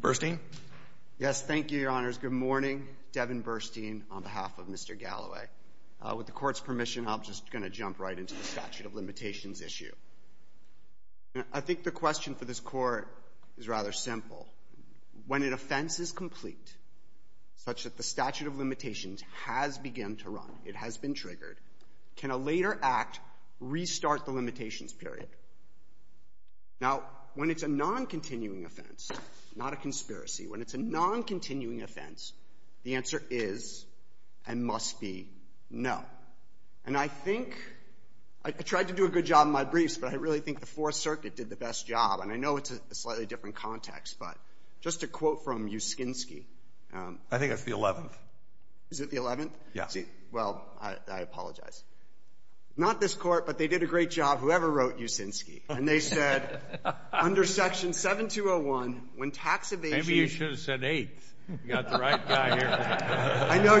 Burstein? Yes, thank you, Your Honors. Good morning. Devin Burstein, on behalf of Mr. Galloway. With the Court's permission, I'm just going to jump right into the statute of limitations issue. I think the question for this Court is rather simple. When an offense is complete, such that the statute of limitations has begun to run, it has been triggered, can a later act restart the limitations period? Now, when it's a non-continuing offense, not a conspiracy, when it's a non-continuing offense, the answer is, and must be, no. And I think, I tried to do a good job in my briefs, but I really think the Fourth Circuit did the best job. And I know it's a slightly different context, but just a quote from Uskinski. I think that's the 11th. Is it the 11th? Yes. Well, I apologize. Not this Court, but they did a great job, whoever wrote Uskinski. And they said, under Section 7201, when tax evasion – Maybe you should have said 8th. You've got the right guy here. I know.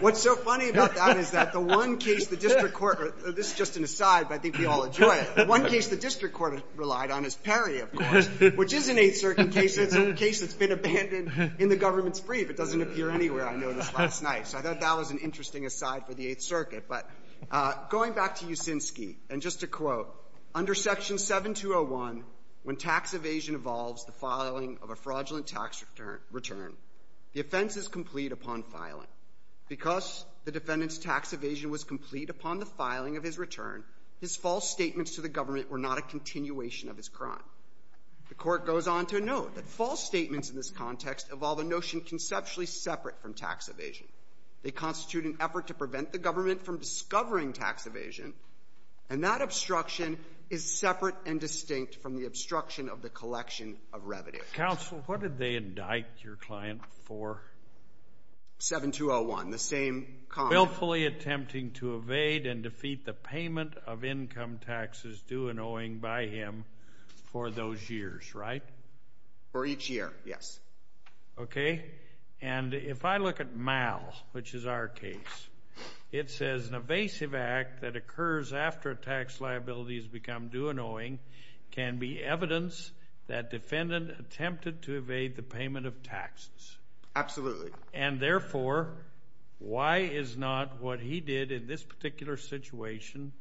What's so funny about that is that the one case the district court – this is just an aside, but I think we all enjoy it. The one case the district court relied on is Perry, of course, which is an 8th Circuit case. It's a case that's been abandoned in the government's brief. It doesn't appear anywhere, I noticed, last night. So I thought that was an interesting aside for the 8th Circuit. But going back to Uskinski, and just a quote, under Section 7201, when tax evasion involves the filing of a fraudulent tax return, the offense is complete upon filing. Because the defendant's tax evasion was complete upon the filing of his return, his false statements to the government were not a continuation of his crime. The Court goes on to note that false statements in this context involve a notion conceptually separate from tax evasion. They constitute an effort to prevent the government from discovering tax evasion, and that obstruction is separate and distinct from the obstruction of the collection of revenue. Counsel, what did they indict your client for? 7201, the same comment. Willfully attempting to evade and defeat the payment of income taxes due and owing by him for those years, right? For each year, yes. Okay, and if I look at MAL, which is our case, it says an evasive act that occurs after a tax liability has become due and owing can be evidence that defendant attempted to evade the payment of taxes. Absolutely. And therefore, why is not what he did in this particular situation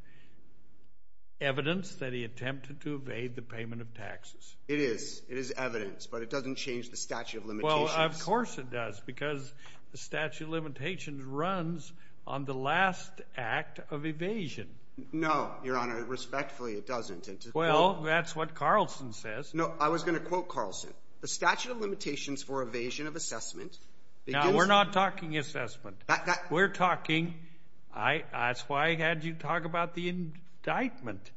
evidence that he attempted to evade the payment of taxes? It is. It is evidence, but it doesn't change the statute of limitations. Well, of course it does, because the statute of limitations runs on the last act of evasion. No, Your Honor, respectfully, it doesn't. Well, that's what Carlson says. No, I was going to quote Carlson. The statute of limitations for evasion of assessment begins... No, we're not talking assessment. We're talking, that's why I had you talk about the indictment.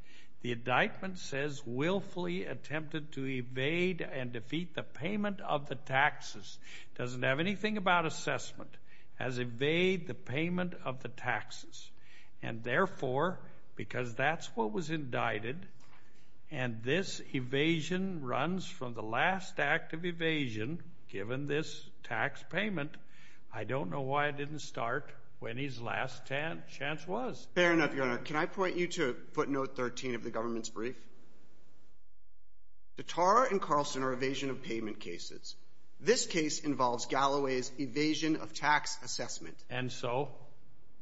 The indictment says willfully attempted to evade and defeat the payment of the taxes. It doesn't have anything about assessment as evade the payment of the taxes. And therefore, because that's what was indicted, and this evasion runs from the last act of evasion given this tax payment, I don't know why it didn't start when his last chance was. That's fair enough, Your Honor. Can I point you to footnote 13 of the government's brief? Zatarra and Carlson are evasion of payment cases. This case involves Galloway's evasion of tax assessment. And so?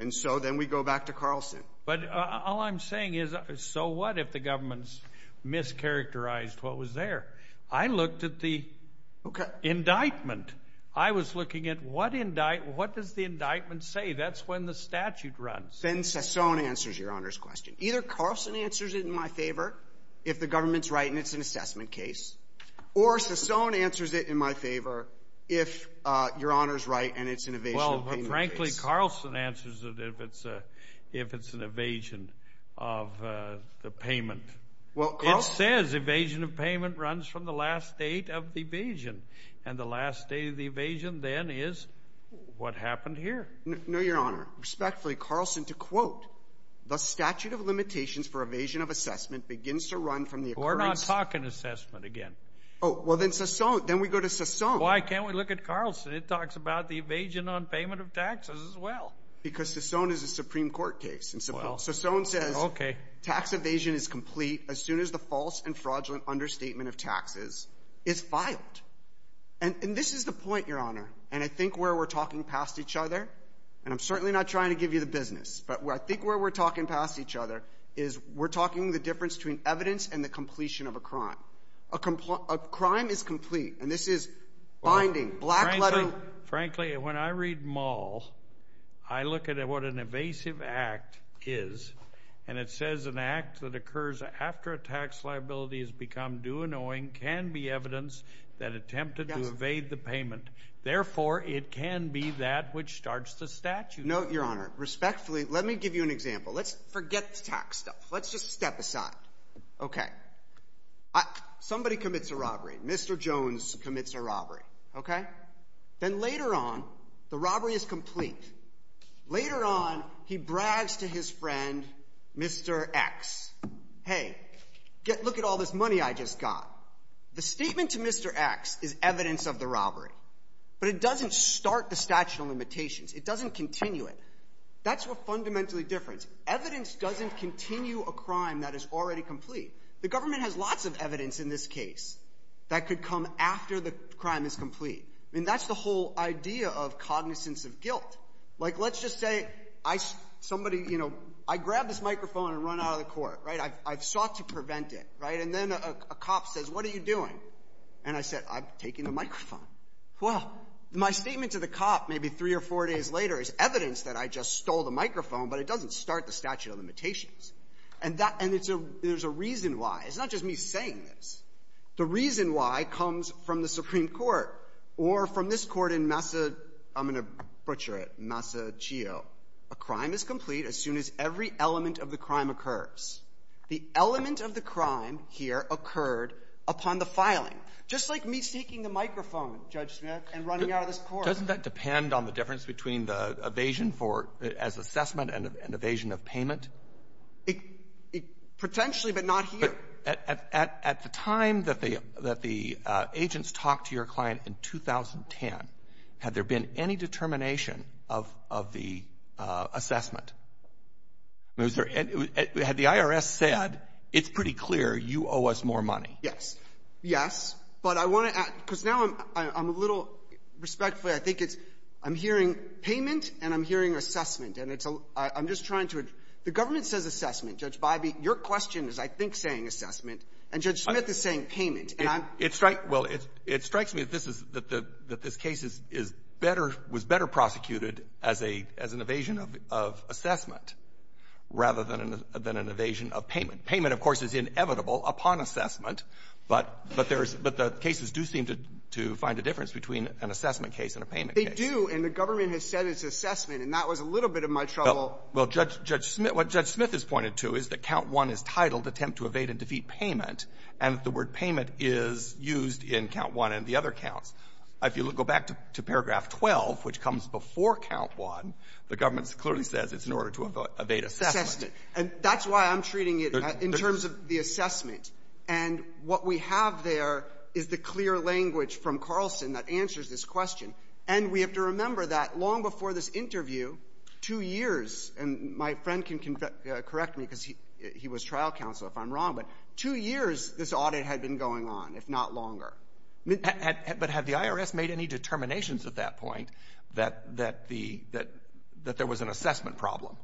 And so then we go back to Carlson. But all I'm saying is, so what if the government's mischaracterized what was there? I looked at the indictment. I was looking at what does the indictment say? That's when the statute runs. Then Sassoon answers Your Honor's question. Either Carlson answers it in my favor if the government's right and it's an assessment case, or Sassoon answers it in my favor if Your Honor's right and it's an evasion of payment case. Well, frankly, Carlson answers it if it's an evasion of the payment. It says evasion of payment runs from the last date of the evasion, and the last date of the evasion then is what happened here. No, Your Honor. Respectfully, Carlson, to quote, the statute of limitations for evasion of assessment begins to run from the occurrence. We're not talking assessment again. Oh, well, then Sassoon. Then we go to Sassoon. Why can't we look at Carlson? It talks about the evasion on payment of taxes as well. Because Sassoon is a Supreme Court case. Sassoon says tax evasion is complete as soon as the false and fraudulent understatement of taxes is filed. And this is the point, Your Honor. And I think where we're talking past each other, and I'm certainly not trying to give you the business, but I think where we're talking past each other is we're talking the difference between evidence and the completion of a crime. A crime is complete, and this is binding, black lettering. Frankly, when I read Maul, I look at what an evasive act is, and it says an act that occurs after a tax liability has become due in owing can be evidence that attempted to evade the payment. Therefore, it can be that which starts the statute. No, Your Honor. Respectfully, let me give you an example. Let's forget the tax stuff. Let's just step aside. Okay. Somebody commits a robbery. Mr. Jones commits a robbery. Okay? Then later on, the robbery is complete. Later on, he brags to his friend, Mr. X, hey, look at all this money I just got. The statement to Mr. X is evidence of the robbery, but it doesn't start the statute of limitations. It doesn't continue it. That's what's fundamentally different. Evidence doesn't continue a crime that is already complete. The government has lots of evidence in this case that could come after the crime is complete. I mean, that's the whole idea of cognizance of guilt. Like, let's just say somebody, you know, I grab this microphone and run out of the court, right? I've sought to prevent it, right? And then a cop says, what are you doing? And I said, I'm taking the microphone. Well, my statement to the cop maybe three or four days later is evidence that I just stole the microphone, but it doesn't start the statute of limitations. And there's a reason why. It's not just me saying this. The reason why comes from the Supreme Court or from this court in Massa, I'm going to butcher it, Massachio. A crime is complete as soon as every element of the crime occurs. The element of the crime here occurred upon the filing. Just like me taking the microphone, Judge Smith, and running out of this court. Doesn't that depend on the difference between the evasion for as assessment and evasion of payment? Potentially, but not here. At the time that the agents talked to your client in 2010, had there been any determination of the assessment? Had the IRS said, it's pretty clear, you owe us more money? Yes. Yes. But I want to add, because now I'm a little, respectfully, I think it's, I'm hearing payment and I'm hearing assessment. And it's a, I'm just trying to, the government says assessment. Judge Bybee, your question is, I think, saying assessment. And Judge Smith is saying payment. It strikes, well, it strikes me that this is, that this case is better, was better prosecuted as a, as an evasion of assessment, rather than an evasion of payment. Payment, of course, is inevitable upon assessment. But, but there's, but the cases do seem to find a difference between an assessment case and a payment case. They do, and the government has said it's assessment. And that was a little bit of my trouble. Well, Judge Smith, what Judge Smith has pointed to is that count one is titled attempt to evade and defeat payment. And the word payment is used in count one and the other counts. If you go back to paragraph 12, which comes before count one, the government clearly says it's in order to evade assessment. Assessment. And that's why I'm treating it in terms of the assessment. And what we have there is the clear language from Carlson that answers this question. And we have to remember that long before this interview, two years, and my friend can correct me because he was trial counsel, if I'm wrong, but two years this audit had been going on, if not longer. But had the IRS made any determinations at that point that the, that there was an assessment problem?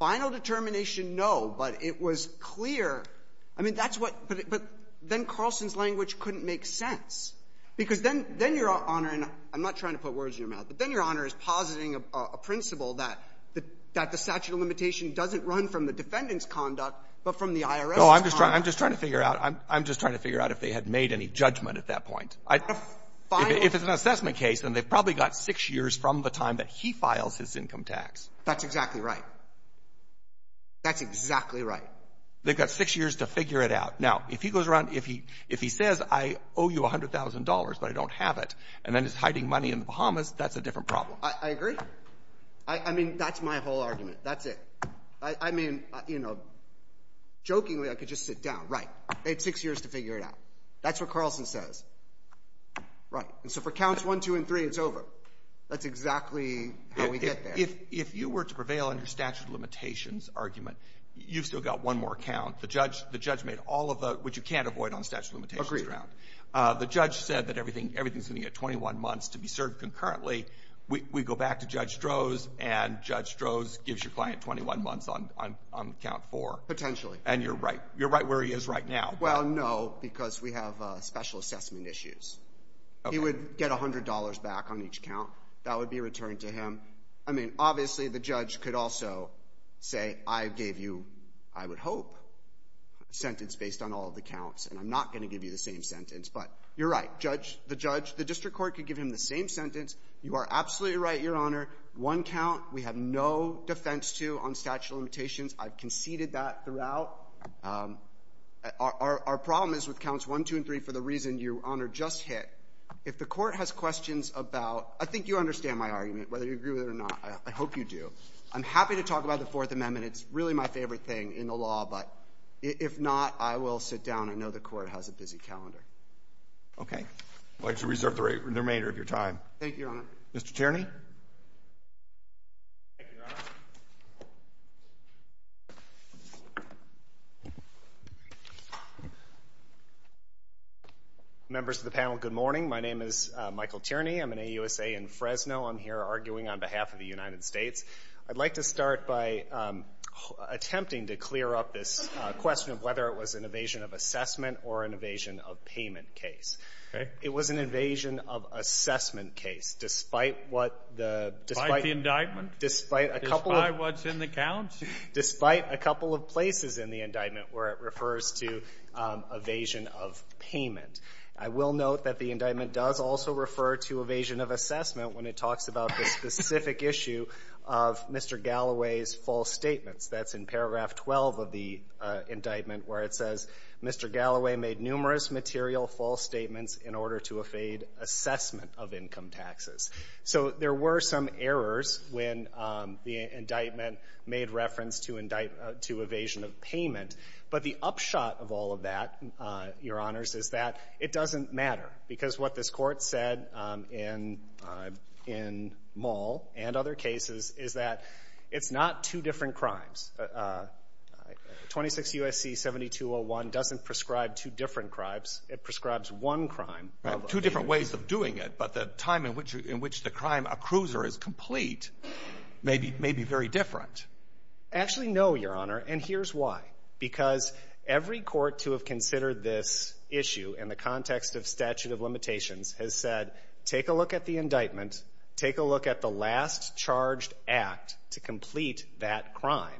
Final determination, no. But it was clear. I mean, that's what, but then Carlson's language couldn't make sense. Because then, then Your Honor, and I'm not trying to put words in your mouth, but then Your Honor is positing a principle that the statute of limitation doesn't run from the defendant's conduct, but from the IRS's conduct. No, I'm just trying, I'm just trying to figure out, I'm just trying to figure out if they had made any judgment at that point. If it's an assessment case, then they've probably got six years from the time that he files his income tax. That's exactly right. That's exactly right. They've got six years to figure it out. Now, if he goes around, if he, if he says, I owe you $100,000, but I don't have it, and then he's hiding money in the Bahamas, that's a different problem. I agree. I mean, that's my whole argument. That's it. I mean, you know, jokingly, I could just sit down. Right. They had six years to figure it out. That's what Carlson says. Right. And so for counts one, two, and three, it's over. That's exactly how we get there. If, if you were to prevail on your statute of limitations argument, you've still got one more count. The judge, the judge made all of the, which you can't avoid on statute of limitations grounds. Agreed. The judge said that everything, everything's going to get 21 months to be served concurrently. We, we go back to Judge Strohs, and Judge Strohs gives your client 21 months on, on, on count four. Potentially. And you're right, you're right where he is right now. Well, no, because we have special assessment issues. Okay. He would get $100 back on each count. That would be returned to him. I mean, obviously, the judge could also say, I gave you, I would hope, a sentence based on all of the counts, and I'm not going to give you the same sentence, but you're right. Judge, the judge, the district court could give him the same sentence. You are absolutely right, Your Honor. One count, we have no defense to on statute of limitations. I've conceded that throughout. Our, our, our problem is with counts one, two, and three for the reason Your Honor just hit. If the court has questions about, I think you understand my argument, whether you agree with it or not. I, I hope you do. I'm happy to talk about the Fourth Amendment. It's really my favorite thing in the law, but if, if not, I will sit down. I know the court has a busy calendar. Okay. I'd like to reserve the remainder of your time. Thank you, Your Honor. Mr. Tierney. Thank you, Your Honor. Members of the panel, good morning. My name is Michael Tierney. I'm an AUSA in Fresno. I'm here arguing on behalf of the United States. I'd like to start by attempting to clear up this question of whether it was an evasion-of-payment case. Okay. It was an evasion-of-assessment case, despite what the — Despite the indictment? Despite a couple of — Despite what's in the counts? Despite a couple of places in the indictment where it refers to evasion-of-payment. I will note that the indictment does also refer to evasion-of-assessment when it talks about the specific issue of Mr. Galloway's false statements. That's in paragraph 12 of the indictment where it says, Mr. Galloway made numerous material false statements in order to evade assessment of income taxes. So there were some errors when the indictment made reference to evasion-of-payment. But the upshot of all of that, Your Honors, is that it doesn't matter because what this Court said in Mull and other cases is that it's not two different crimes. 26 U.S.C. 7201 doesn't prescribe two different crimes. It prescribes one crime. Right. Two different ways of doing it. But the time in which the crime accrues or is complete may be very different. Actually, no, Your Honor. And here's why. Because every court to have considered this issue in the context of statute of limitations has said, take a look at the indictment. Take a look at the last charged act to complete that crime.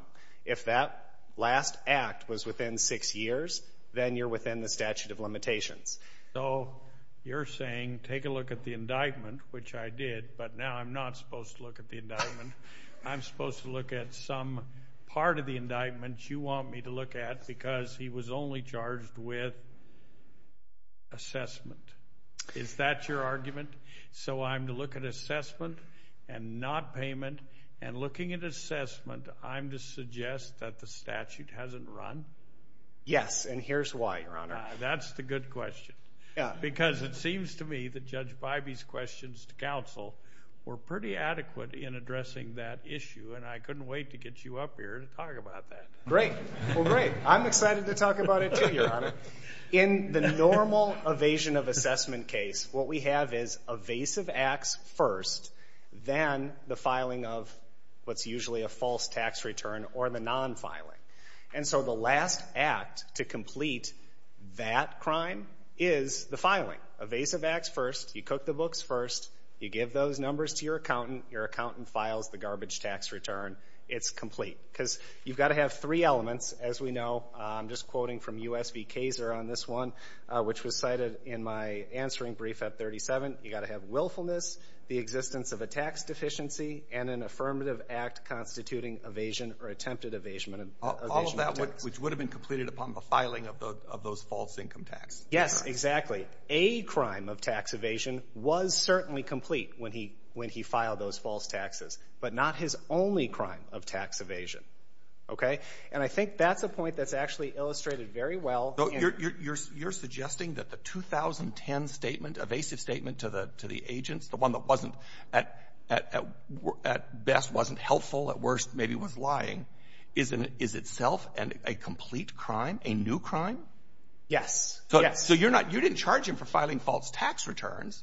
If that last act was within six years, then you're within the statute of limitations. So you're saying, take a look at the indictment, which I did, but now I'm not supposed to look at the indictment. I'm supposed to look at some part of the indictment. You want me to look at because he was only charged with assessment. Is that your argument? So I'm to look at assessment and not payment, and looking at assessment, I'm to suggest that the statute hasn't run? Yes, and here's why, Your Honor. That's the good question. Because it seems to me that Judge Bybee's questions to counsel were pretty adequate in addressing that issue, and I couldn't wait to get you up here to talk about that. Great. Well, great. I'm excited to talk about it too, Your Honor. In the normal evasion of assessment case, what we have is evasive acts first, then the filing of what's usually a false tax return or the non-filing. And so the last act to complete that crime is the filing. Evasive acts first. You cook the books first. You give those numbers to your accountant. Your accountant files the garbage tax return. It's complete. Because you've got to have three elements, as we know. I'm just quoting from U.S. v. Kaser on this one, which was cited in my answering brief at 37. You've got to have willfulness, the existence of a tax deficiency, and an affirmative act constituting evasion or attempted evasion of tax. All of that, which would have been completed upon the filing of those false income tax. Yes, exactly. That's right. A crime of tax evasion was certainly complete when he filed those false taxes, but not his only crime of tax evasion. Okay? And I think that's a point that's actually illustrated very well. You're suggesting that the 2010 statement, evasive statement to the agents, the one that at best wasn't helpful, at worst maybe was lying, is itself a complete crime, a new crime? Yes. So you didn't charge him for filing false tax returns.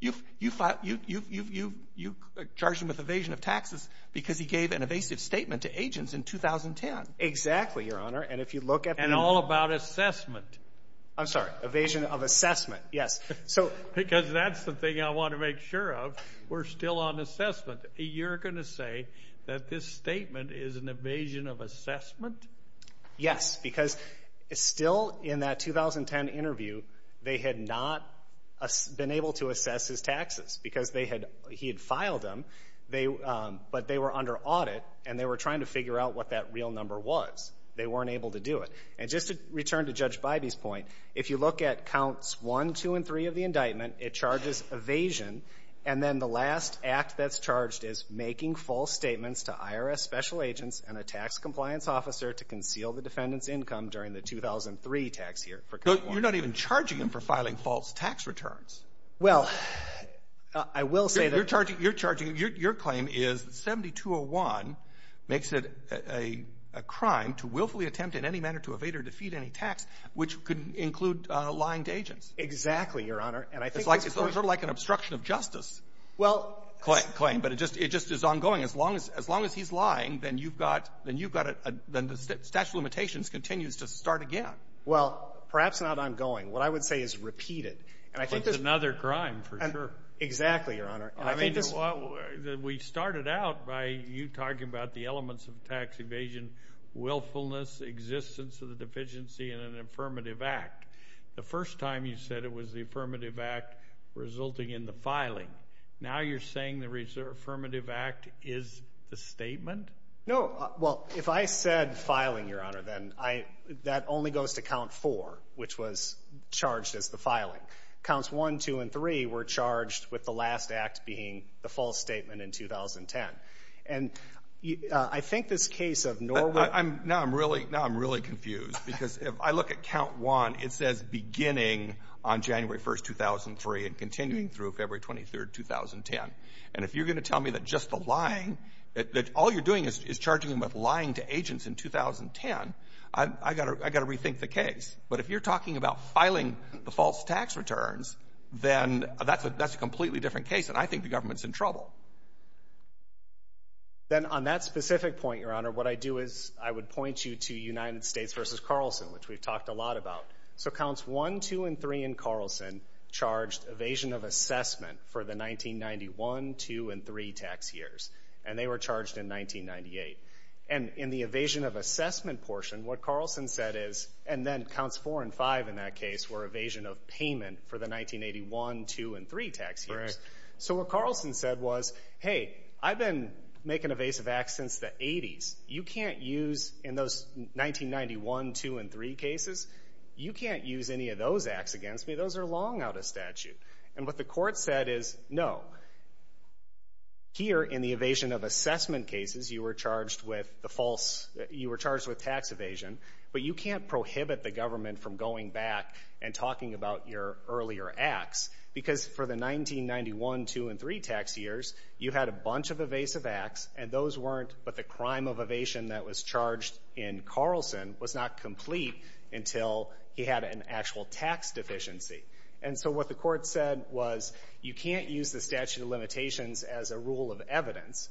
You charged him with evasion of taxes because he gave an evasive statement to agents in 2010. Exactly, Your Honor. And all about assessment. I'm sorry. Evasion of assessment, yes. Because that's the thing I want to make sure of. We're still on assessment. You're going to say that this statement is an evasion of assessment? Yes, because still in that 2010 interview they had not been able to assess his taxes because he had filed them, but they were under audit and they were trying to figure out what that real number was. They weren't able to do it. And just to return to Judge Bybee's point, if you look at counts 1, 2, and 3 of the indictment, it charges evasion, and then the last act that's charged is making false statements to IRS special agents and a tax compliance officer to conceal the defendant's income during the 2003 tax year. You're not even charging him for filing false tax returns. Well, I will say that — You're charging him. Your claim is 7201 makes it a crime to willfully attempt in any manner to evade or defeat any tax, which could include lying to agents. Exactly, Your Honor. It's sort of like an obstruction of justice claim, but it just is ongoing. As long as he's lying, then the statute of limitations continues to start again. Well, perhaps not ongoing. What I would say is repeated. But it's another crime for sure. Exactly, Your Honor. We started out by you talking about the elements of tax evasion, willfulness, existence of the deficiency, and an affirmative act. The first time you said it was the affirmative act resulting in the filing. Now you're saying the affirmative act is the statement? No. Well, if I said filing, Your Honor, then that only goes to count four, which was charged as the filing. Counts one, two, and three were charged with the last act being the false statement in 2010. And I think this case of Norwood — Now I'm really confused because if I look at count one, it says beginning on January 1, 2003 and continuing through February 23, 2010. And if you're going to tell me that just the lying, that all you're doing is charging him with lying to agents in 2010, I've got to rethink the case. But if you're talking about filing the false tax returns, then that's a completely different case, and I think the government's in trouble. Then on that specific point, Your Honor, what I do is I would point you to United States v. Carlson, which we've talked a lot about. So counts one, two, and three in Carlson charged evasion of assessment for the 1991, two, and three tax years, and they were charged in 1998. And in the evasion of assessment portion, what Carlson said is — and then counts four and five in that case were evasion of payment for the 1981, two, and three tax years. So what Carlson said was, hey, I've been making evasive acts since the 80s. You can't use, in those 1991, two, and three cases, you can't use any of those acts against me. Those are long out of statute. And what the court said is, no, here in the evasion of assessment cases, you were charged with tax evasion, but you can't prohibit the government from going back and talking about your earlier acts because for the 1991, two, and three tax years, you had a bunch of evasive acts, and those weren't — but the crime of evasion that was charged in Carlson was not complete until he had an actual tax deficiency. And so what the court said was, you can't use the statute of limitations as a rule of evidence.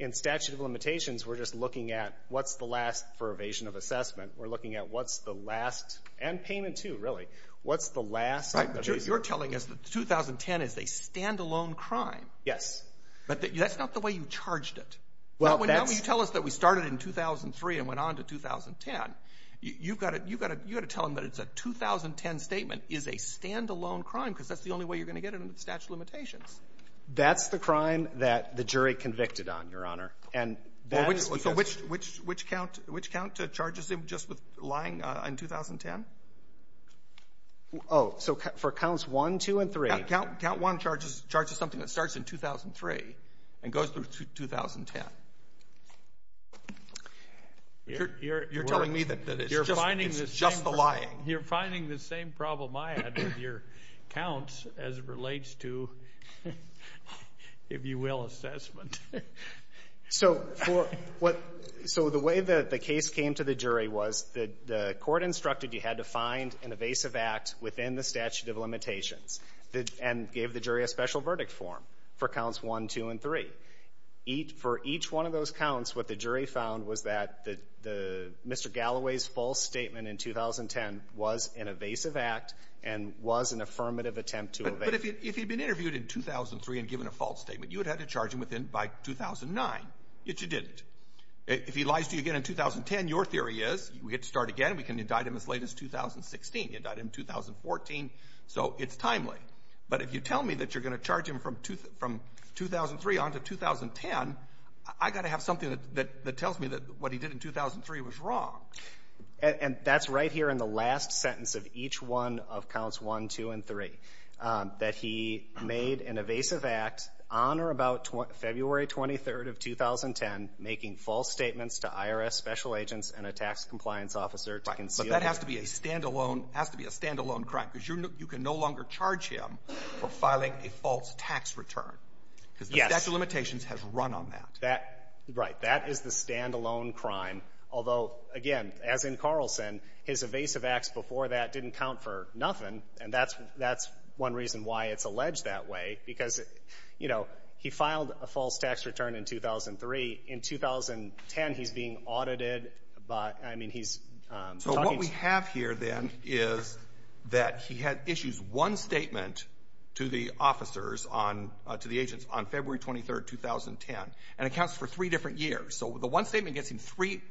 In statute of limitations, we're just looking at what's the last for evasion of assessment. We're looking at what's the last — and payment, too, really — what's the last evasion. You're telling us that 2010 is a standalone crime. Yes. But that's not the way you charged it. Well, that's — Not when you tell us that we started in 2003 and went on to 2010. You've got to tell them that it's a 2010 statement is a standalone crime because that's the only way you're going to get it under the statute of limitations. That's the crime that the jury convicted on, Your Honor. And that's because — Well, which count charges him just with lying in 2010? Oh, so for counts one, two, and three. Count one charges something that starts in 2003 and goes through 2010. You're telling me that it's just the lying. You're finding the same problem I had with your counts as it relates to, if you will, assessment. So the way that the case came to the jury was the court instructed you had to find an evasive act within the statute of limitations and gave the jury a special verdict form for counts one, two, and three. For each one of those counts, what the jury found was that Mr. Galloway's false statement in 2010 was an evasive act and was an affirmative attempt to evade. But if he had been interviewed in 2003 and given a false statement, you would have had to charge him by 2009. Yet you didn't. If he lies to you again in 2010, your theory is we get to start again. We can indict him as late as 2016. You indict him in 2014, so it's timely. But if you tell me that you're going to charge him from 2003 on to 2010, I've got to have something that tells me that what he did in 2003 was wrong. And that's right here in the last sentence of each one of counts one, two, and three, that he made an evasive act on or about February 23rd of 2010, making false statements to IRS special agents and a tax compliance officer to conceal. But that has to be a stand-alone crime, because you can no longer charge him for filing a false tax return. Yes. Because the statute of limitations has run on that. Right. That is the stand-alone crime. Although, again, as in Carlson, his evasive acts before that didn't count for nothing, and that's one reason why it's alleged that way, because, you know, he filed a false tax return in 2003. In 2010, he's being audited. I mean, he's talking to you. So what we have here, then, is that he issues one statement to the officers, to the agents, on February 23rd, 2010, and it counts for three different years. So the one statement gets him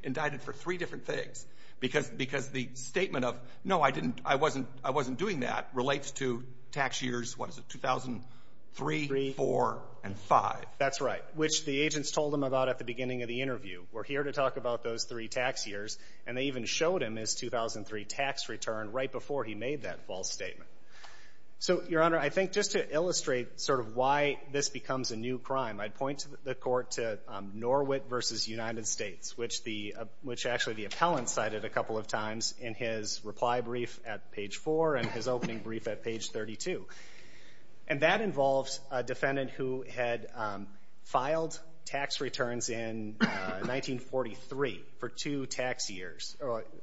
indicted for three different things, because the statement of, no, I wasn't doing that relates to tax years 2003, 2004, and 2005. That's right. Which the agents told him about at the beginning of the interview. We're here to talk about those three tax years, and they even showed him his 2003 tax return right before he made that false statement. So, Your Honor, I think just to illustrate sort of why this becomes a new crime, I'd point the court to Norwit v. United States, which actually the appellant cited a couple of times in his reply brief at page 4 and his opening brief at page 32. And that involves a defendant who had filed tax returns in 1943 for two tax years.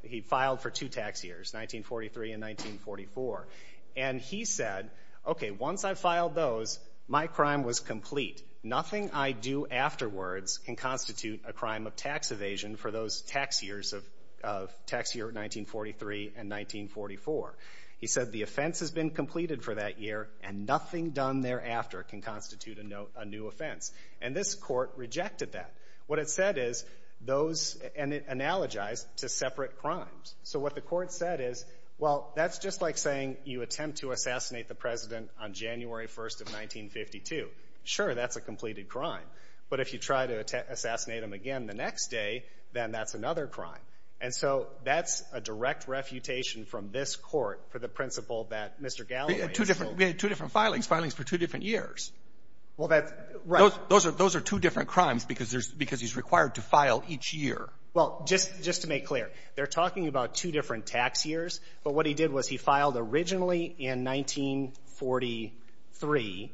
He filed for two tax years, 1943 and 1944. And he said, okay, once I filed those, my crime was complete. Nothing I do afterwards can constitute a crime of tax evasion for those tax years of 1943 and 1944. He said the offense has been completed for that year, and nothing done thereafter can constitute a new offense. And this court rejected that. What it said is those, and it analogized to separate crimes. So what the court said is, well, that's just like saying you attempt to assassinate the president on January 1st of 1952. Sure, that's a completed crime. But if you try to assassinate him again the next day, then that's another crime. And so that's a direct refutation from this court for the principle that Mr. Galloway is guilty. We had two different filings, filings for two different years. Well, that's right. Those are two different crimes because he's required to file each year. Well, just to make clear, they're talking about two different tax years. But what he did was he filed originally in 1943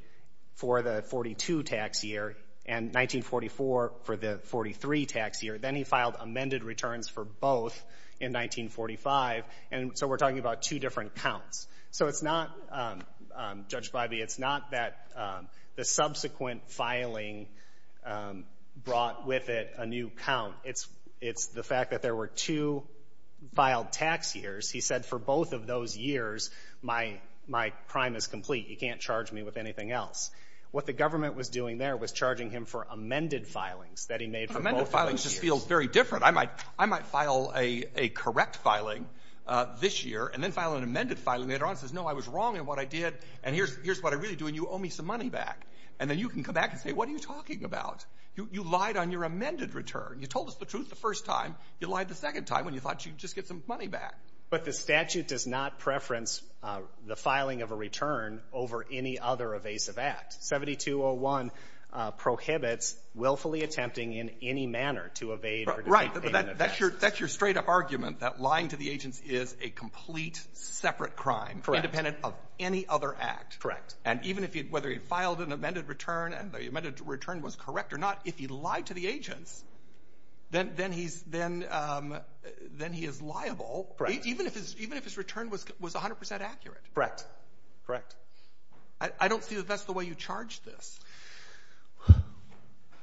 for the 42 tax year and 1944 for the 43 tax year. Then he filed amended returns for both in 1945. And so we're talking about two different counts. So it's not, Judge Bybee, it's not that the subsequent filing brought with it a new count. It's the fact that there were two filed tax years. He said for both of those years, my crime is complete. You can't charge me with anything else. What the government was doing there was charging him for amended filings that he made for both of those years. Well, mine just feels very different. I might file a correct filing this year and then file an amended filing later on that says, no, I was wrong in what I did, and here's what I really do, and you owe me some money back. And then you can come back and say, what are you talking about? You lied on your amended return. You told us the truth the first time. You lied the second time when you thought you'd just get some money back. But the statute does not preference the filing of a return over any other evasive act. 7201 prohibits willfully attempting in any manner to evade or disobey an event. Right. But that's your straight-up argument, that lying to the agents is a complete separate crime. Correct. Independent of any other act. Correct. And even if he had — whether he had filed an amended return and the amended return was correct or not, if he lied to the agents, then he's — then he is liable. Correct. Even if his return was 100 percent accurate. Correct. Correct. I don't see that that's the way you charge this.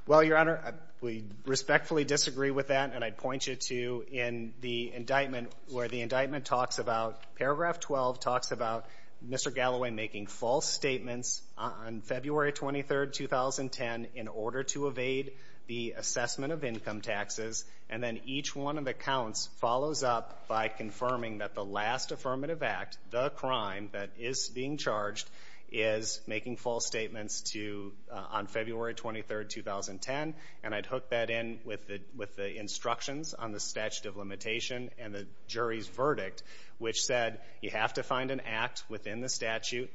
Well, Your Honor, we respectfully disagree with that. And I'd point you to in the indictment where the indictment talks about — paragraph 12 talks about Mr. Galloway making false statements on February 23, 2010, in order to evade the assessment of income taxes. And then each one of the counts follows up by confirming that the last affirmative act, the crime that is being charged, is making false statements to — on February 23, 2010. And I'd hook that in with the instructions on the statute of limitation and the jury's verdict, which said you have to find an act within the statute.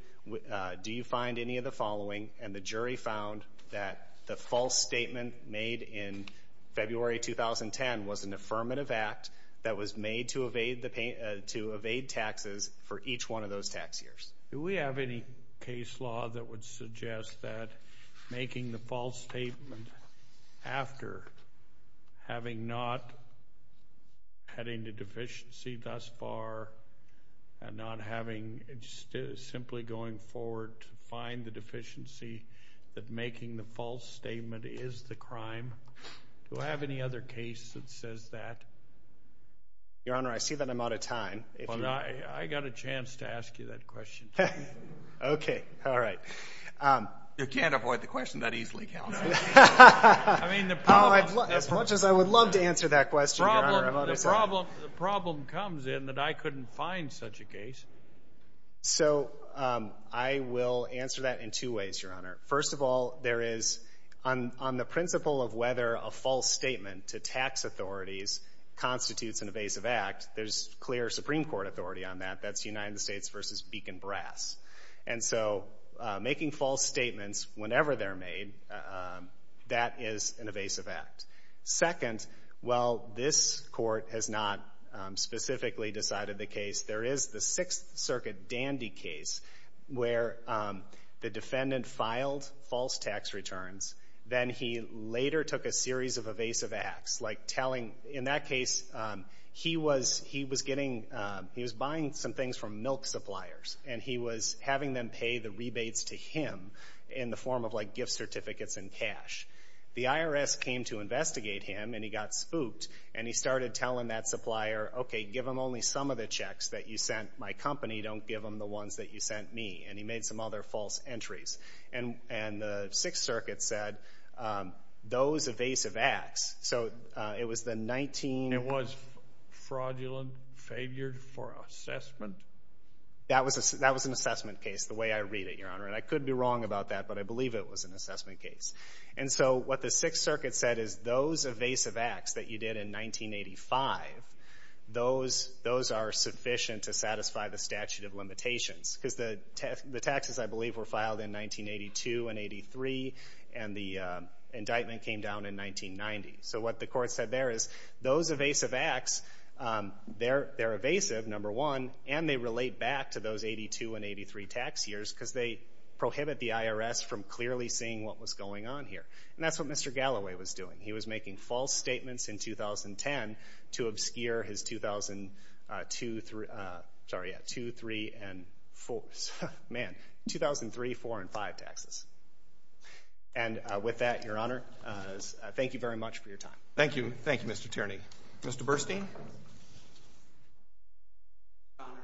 Do you find any of the following? And the jury found that the false statement made in February 2010 was an affirmative act that was made to evade the — to evade taxes for each one of those tax years. Do we have any case law that would suggest that making the false statement after having not had any deficiency thus far and not having — simply going forward to find the deficiency that making the false statement is the crime? Do I have any other case that says that? Your Honor, I see that I'm out of time. I got a chance to ask you that question. Okay. All right. You can't avoid the question that easily, counsel. I mean, the problem — As much as I would love to answer that question, Your Honor, I'm out of time. The problem comes in that I couldn't find such a case. So I will answer that in two ways, Your Honor. First of all, there is — on the principle of whether a false statement to tax authorities constitutes an evasive act, there's clear Supreme Court authority on that. That's United States v. Beacon Brass. And so making false statements whenever they're made, that is an evasive act. Second, while this court has not specifically decided the case, there is the Sixth Circuit Dandy case where the defendant filed false tax returns. Then he later took a series of evasive acts, like telling — in that case, he was getting — he was buying some things from milk suppliers, and he was having them pay the rebates to him in the form of, like, gift certificates in cash. The IRS came to investigate him, and he got spooked, and he started telling that supplier, okay, give him only some of the checks that you sent my company. Don't give him the ones that you sent me. And he made some other false entries. And the Sixth Circuit said, those evasive acts. So it was the 19 — It was fraudulent, favored for assessment. That was an assessment case, the way I read it, Your Honor. And I could be wrong about that, but I believe it was an assessment case. And so what the Sixth Circuit said is, those evasive acts that you did in 1985, those are sufficient to satisfy the statute of limitations. Because the taxes, I believe, were filed in 1982 and 83, and the indictment came down in 1990. So what the court said there is, those evasive acts, they're evasive, number one, and they relate back to those 82 and 83 tax years because they prohibit the IRS from clearly seeing what was going on here. And that's what Mr. Galloway was doing. He was making false statements in 2010 to obscure his 2002, sorry, yeah, 2003 and four. Man, 2003, four, and five taxes. And with that, Your Honor, thank you very much for your time. Thank you. Thank you, Mr. Tierney. Mr. Burstein? Your Honor,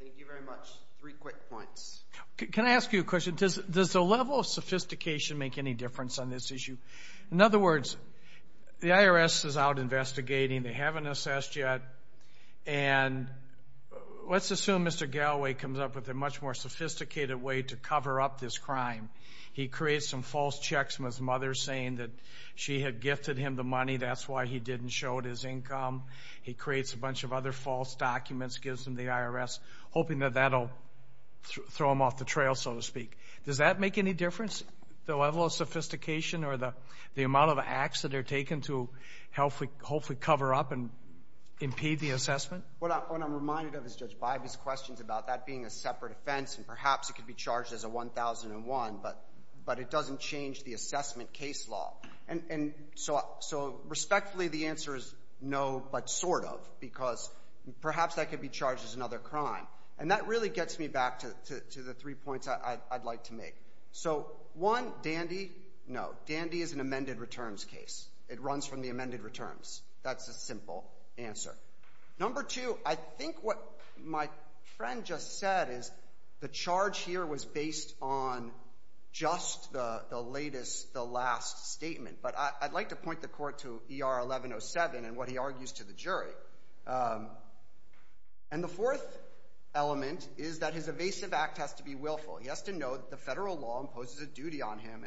thank you very much. Three quick points. Can I ask you a question? Does the level of sophistication make any difference on this issue? In other words, the IRS is out investigating. They haven't assessed yet. And let's assume Mr. Galloway comes up with a much more sophisticated way to cover up this crime. He creates some false checks from his mother saying that she had gifted him the money. That's why he didn't show it as income. He creates a bunch of other false documents, gives them to the IRS, hoping that that will throw him off the trail, so to speak. Does that make any difference, the level of sophistication or the amount of acts that are taken to hopefully cover up and impede the assessment? What I'm reminded of is Judge Bybee's questions about that being a separate offense, and perhaps it could be charged as a 1001, but it doesn't change the assessment case law. And so respectfully, the answer is no, but sort of, because perhaps that could be charged as another crime. And that really gets me back to the three points I'd like to make. So, one, Dandy, no. Dandy is an amended returns case. It runs from the amended returns. That's the simple answer. Number two, I think what my friend just said is the charge here was based on just the latest, the last statement. But I'd like to point the court to ER 1107 and what he argues to the jury. And the fourth element is that his evasive act has to be willful. He has to know that the federal law imposes a duty on him,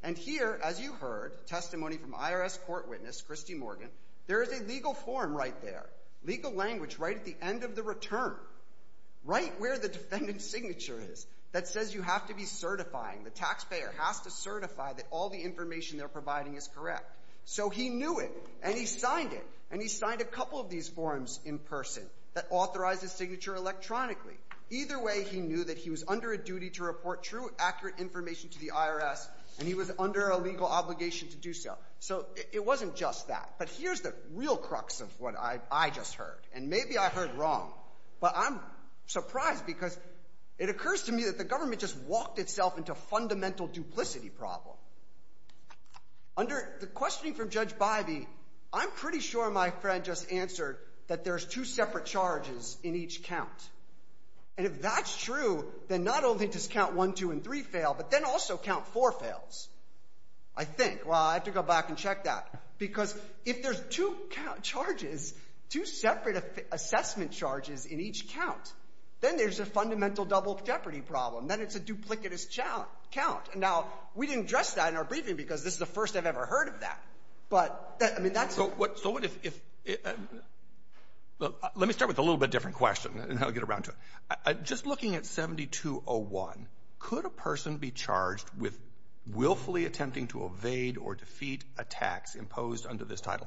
and here, as you heard testimony from IRS court witness Christy Morgan, there is a legal form right there, legal language right at the end of the return, right where the defendant's signature is, that says you have to be certifying, the taxpayer has to certify that all the information they're providing is correct. So he knew it, and he signed it, and he signed a couple of these forms in person that authorize his signature electronically. Either way, he knew that he was under a duty to report true, accurate information to the IRS and he was under a legal obligation to do so. So it wasn't just that, but here's the real crux of what I just heard, and maybe I heard wrong, but I'm surprised because it occurs to me that the government just walked itself into a fundamental duplicity problem. Under the questioning from Judge Bybee, I'm pretty sure my friend just answered that there's two separate charges in each count. And if that's true, then not only does count one, two, and three fail, but then also count four fails, I think. Well, I have to go back and check that. Because if there's two charges, two separate assessment charges in each count, then there's a fundamental double jeopardy problem. Then it's a duplicitous count. Now, we didn't address that in our briefing because this is the first I've ever heard of that. But, I mean, that's the... Let me start with a little bit different question, and then I'll get around to it. Just looking at 7201, could a person be charged with willfully attempting to evade or defeat attacks imposed under this title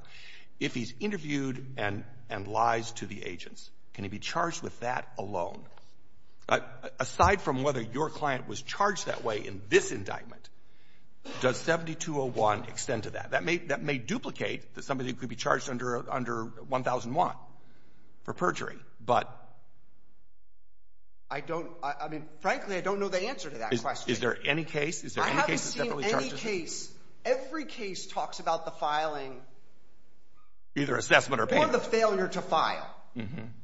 if he's interviewed and lies to the agents? Can he be charged with that alone? Aside from whether your client was charged that way in this indictment, does 7201 extend to that? That may duplicate that somebody could be charged under 1001 for perjury, but I don't, I mean, frankly, I don't know the answer to that question. Is there any case? I haven't seen any case. Every case talks about the filing. Either assessment or payment. Or the failure to file.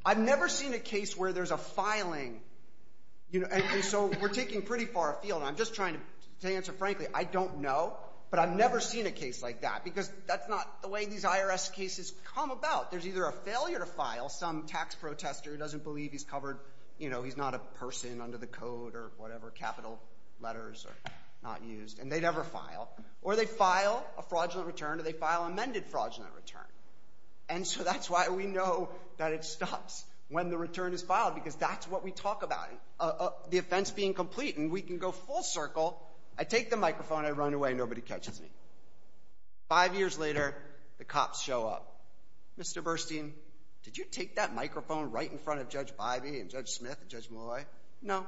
I've never seen a case where there's a filing, and so we're taking pretty far afield. I'm just trying to answer frankly. I don't know, but I've never seen a case like that because that's not the way these IRS cases come about. There's either a failure to file, some tax protester who doesn't believe he's covered, you know, he's not a person under the code or whatever, capital letters are not used, and they never file. Or they file a fraudulent return or they file amended fraudulent return. And so that's why we know that it stops when the return is filed because that's what we talk about, the offense being complete, and we can go full circle. I take the microphone. I run away. Nobody catches me. Five years later, the cops show up. Mr. Burstein, did you take that microphone right in front of Judge Bivey and Judge Smith and Judge Molloy? No.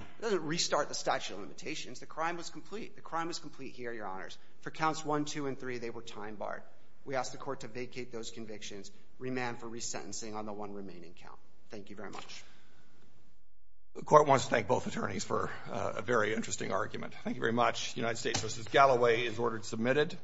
It doesn't restart the statute of limitations. The crime was complete. The crime was complete here, Your Honors. For counts 1, 2, and 3, they were time barred. We ask the court to vacate those convictions, remand for resentencing on the one remaining count. Thank you very much. The court wants to thank both attorneys for a very interesting argument. Thank you very much. United States v. Galloway is ordered submitted.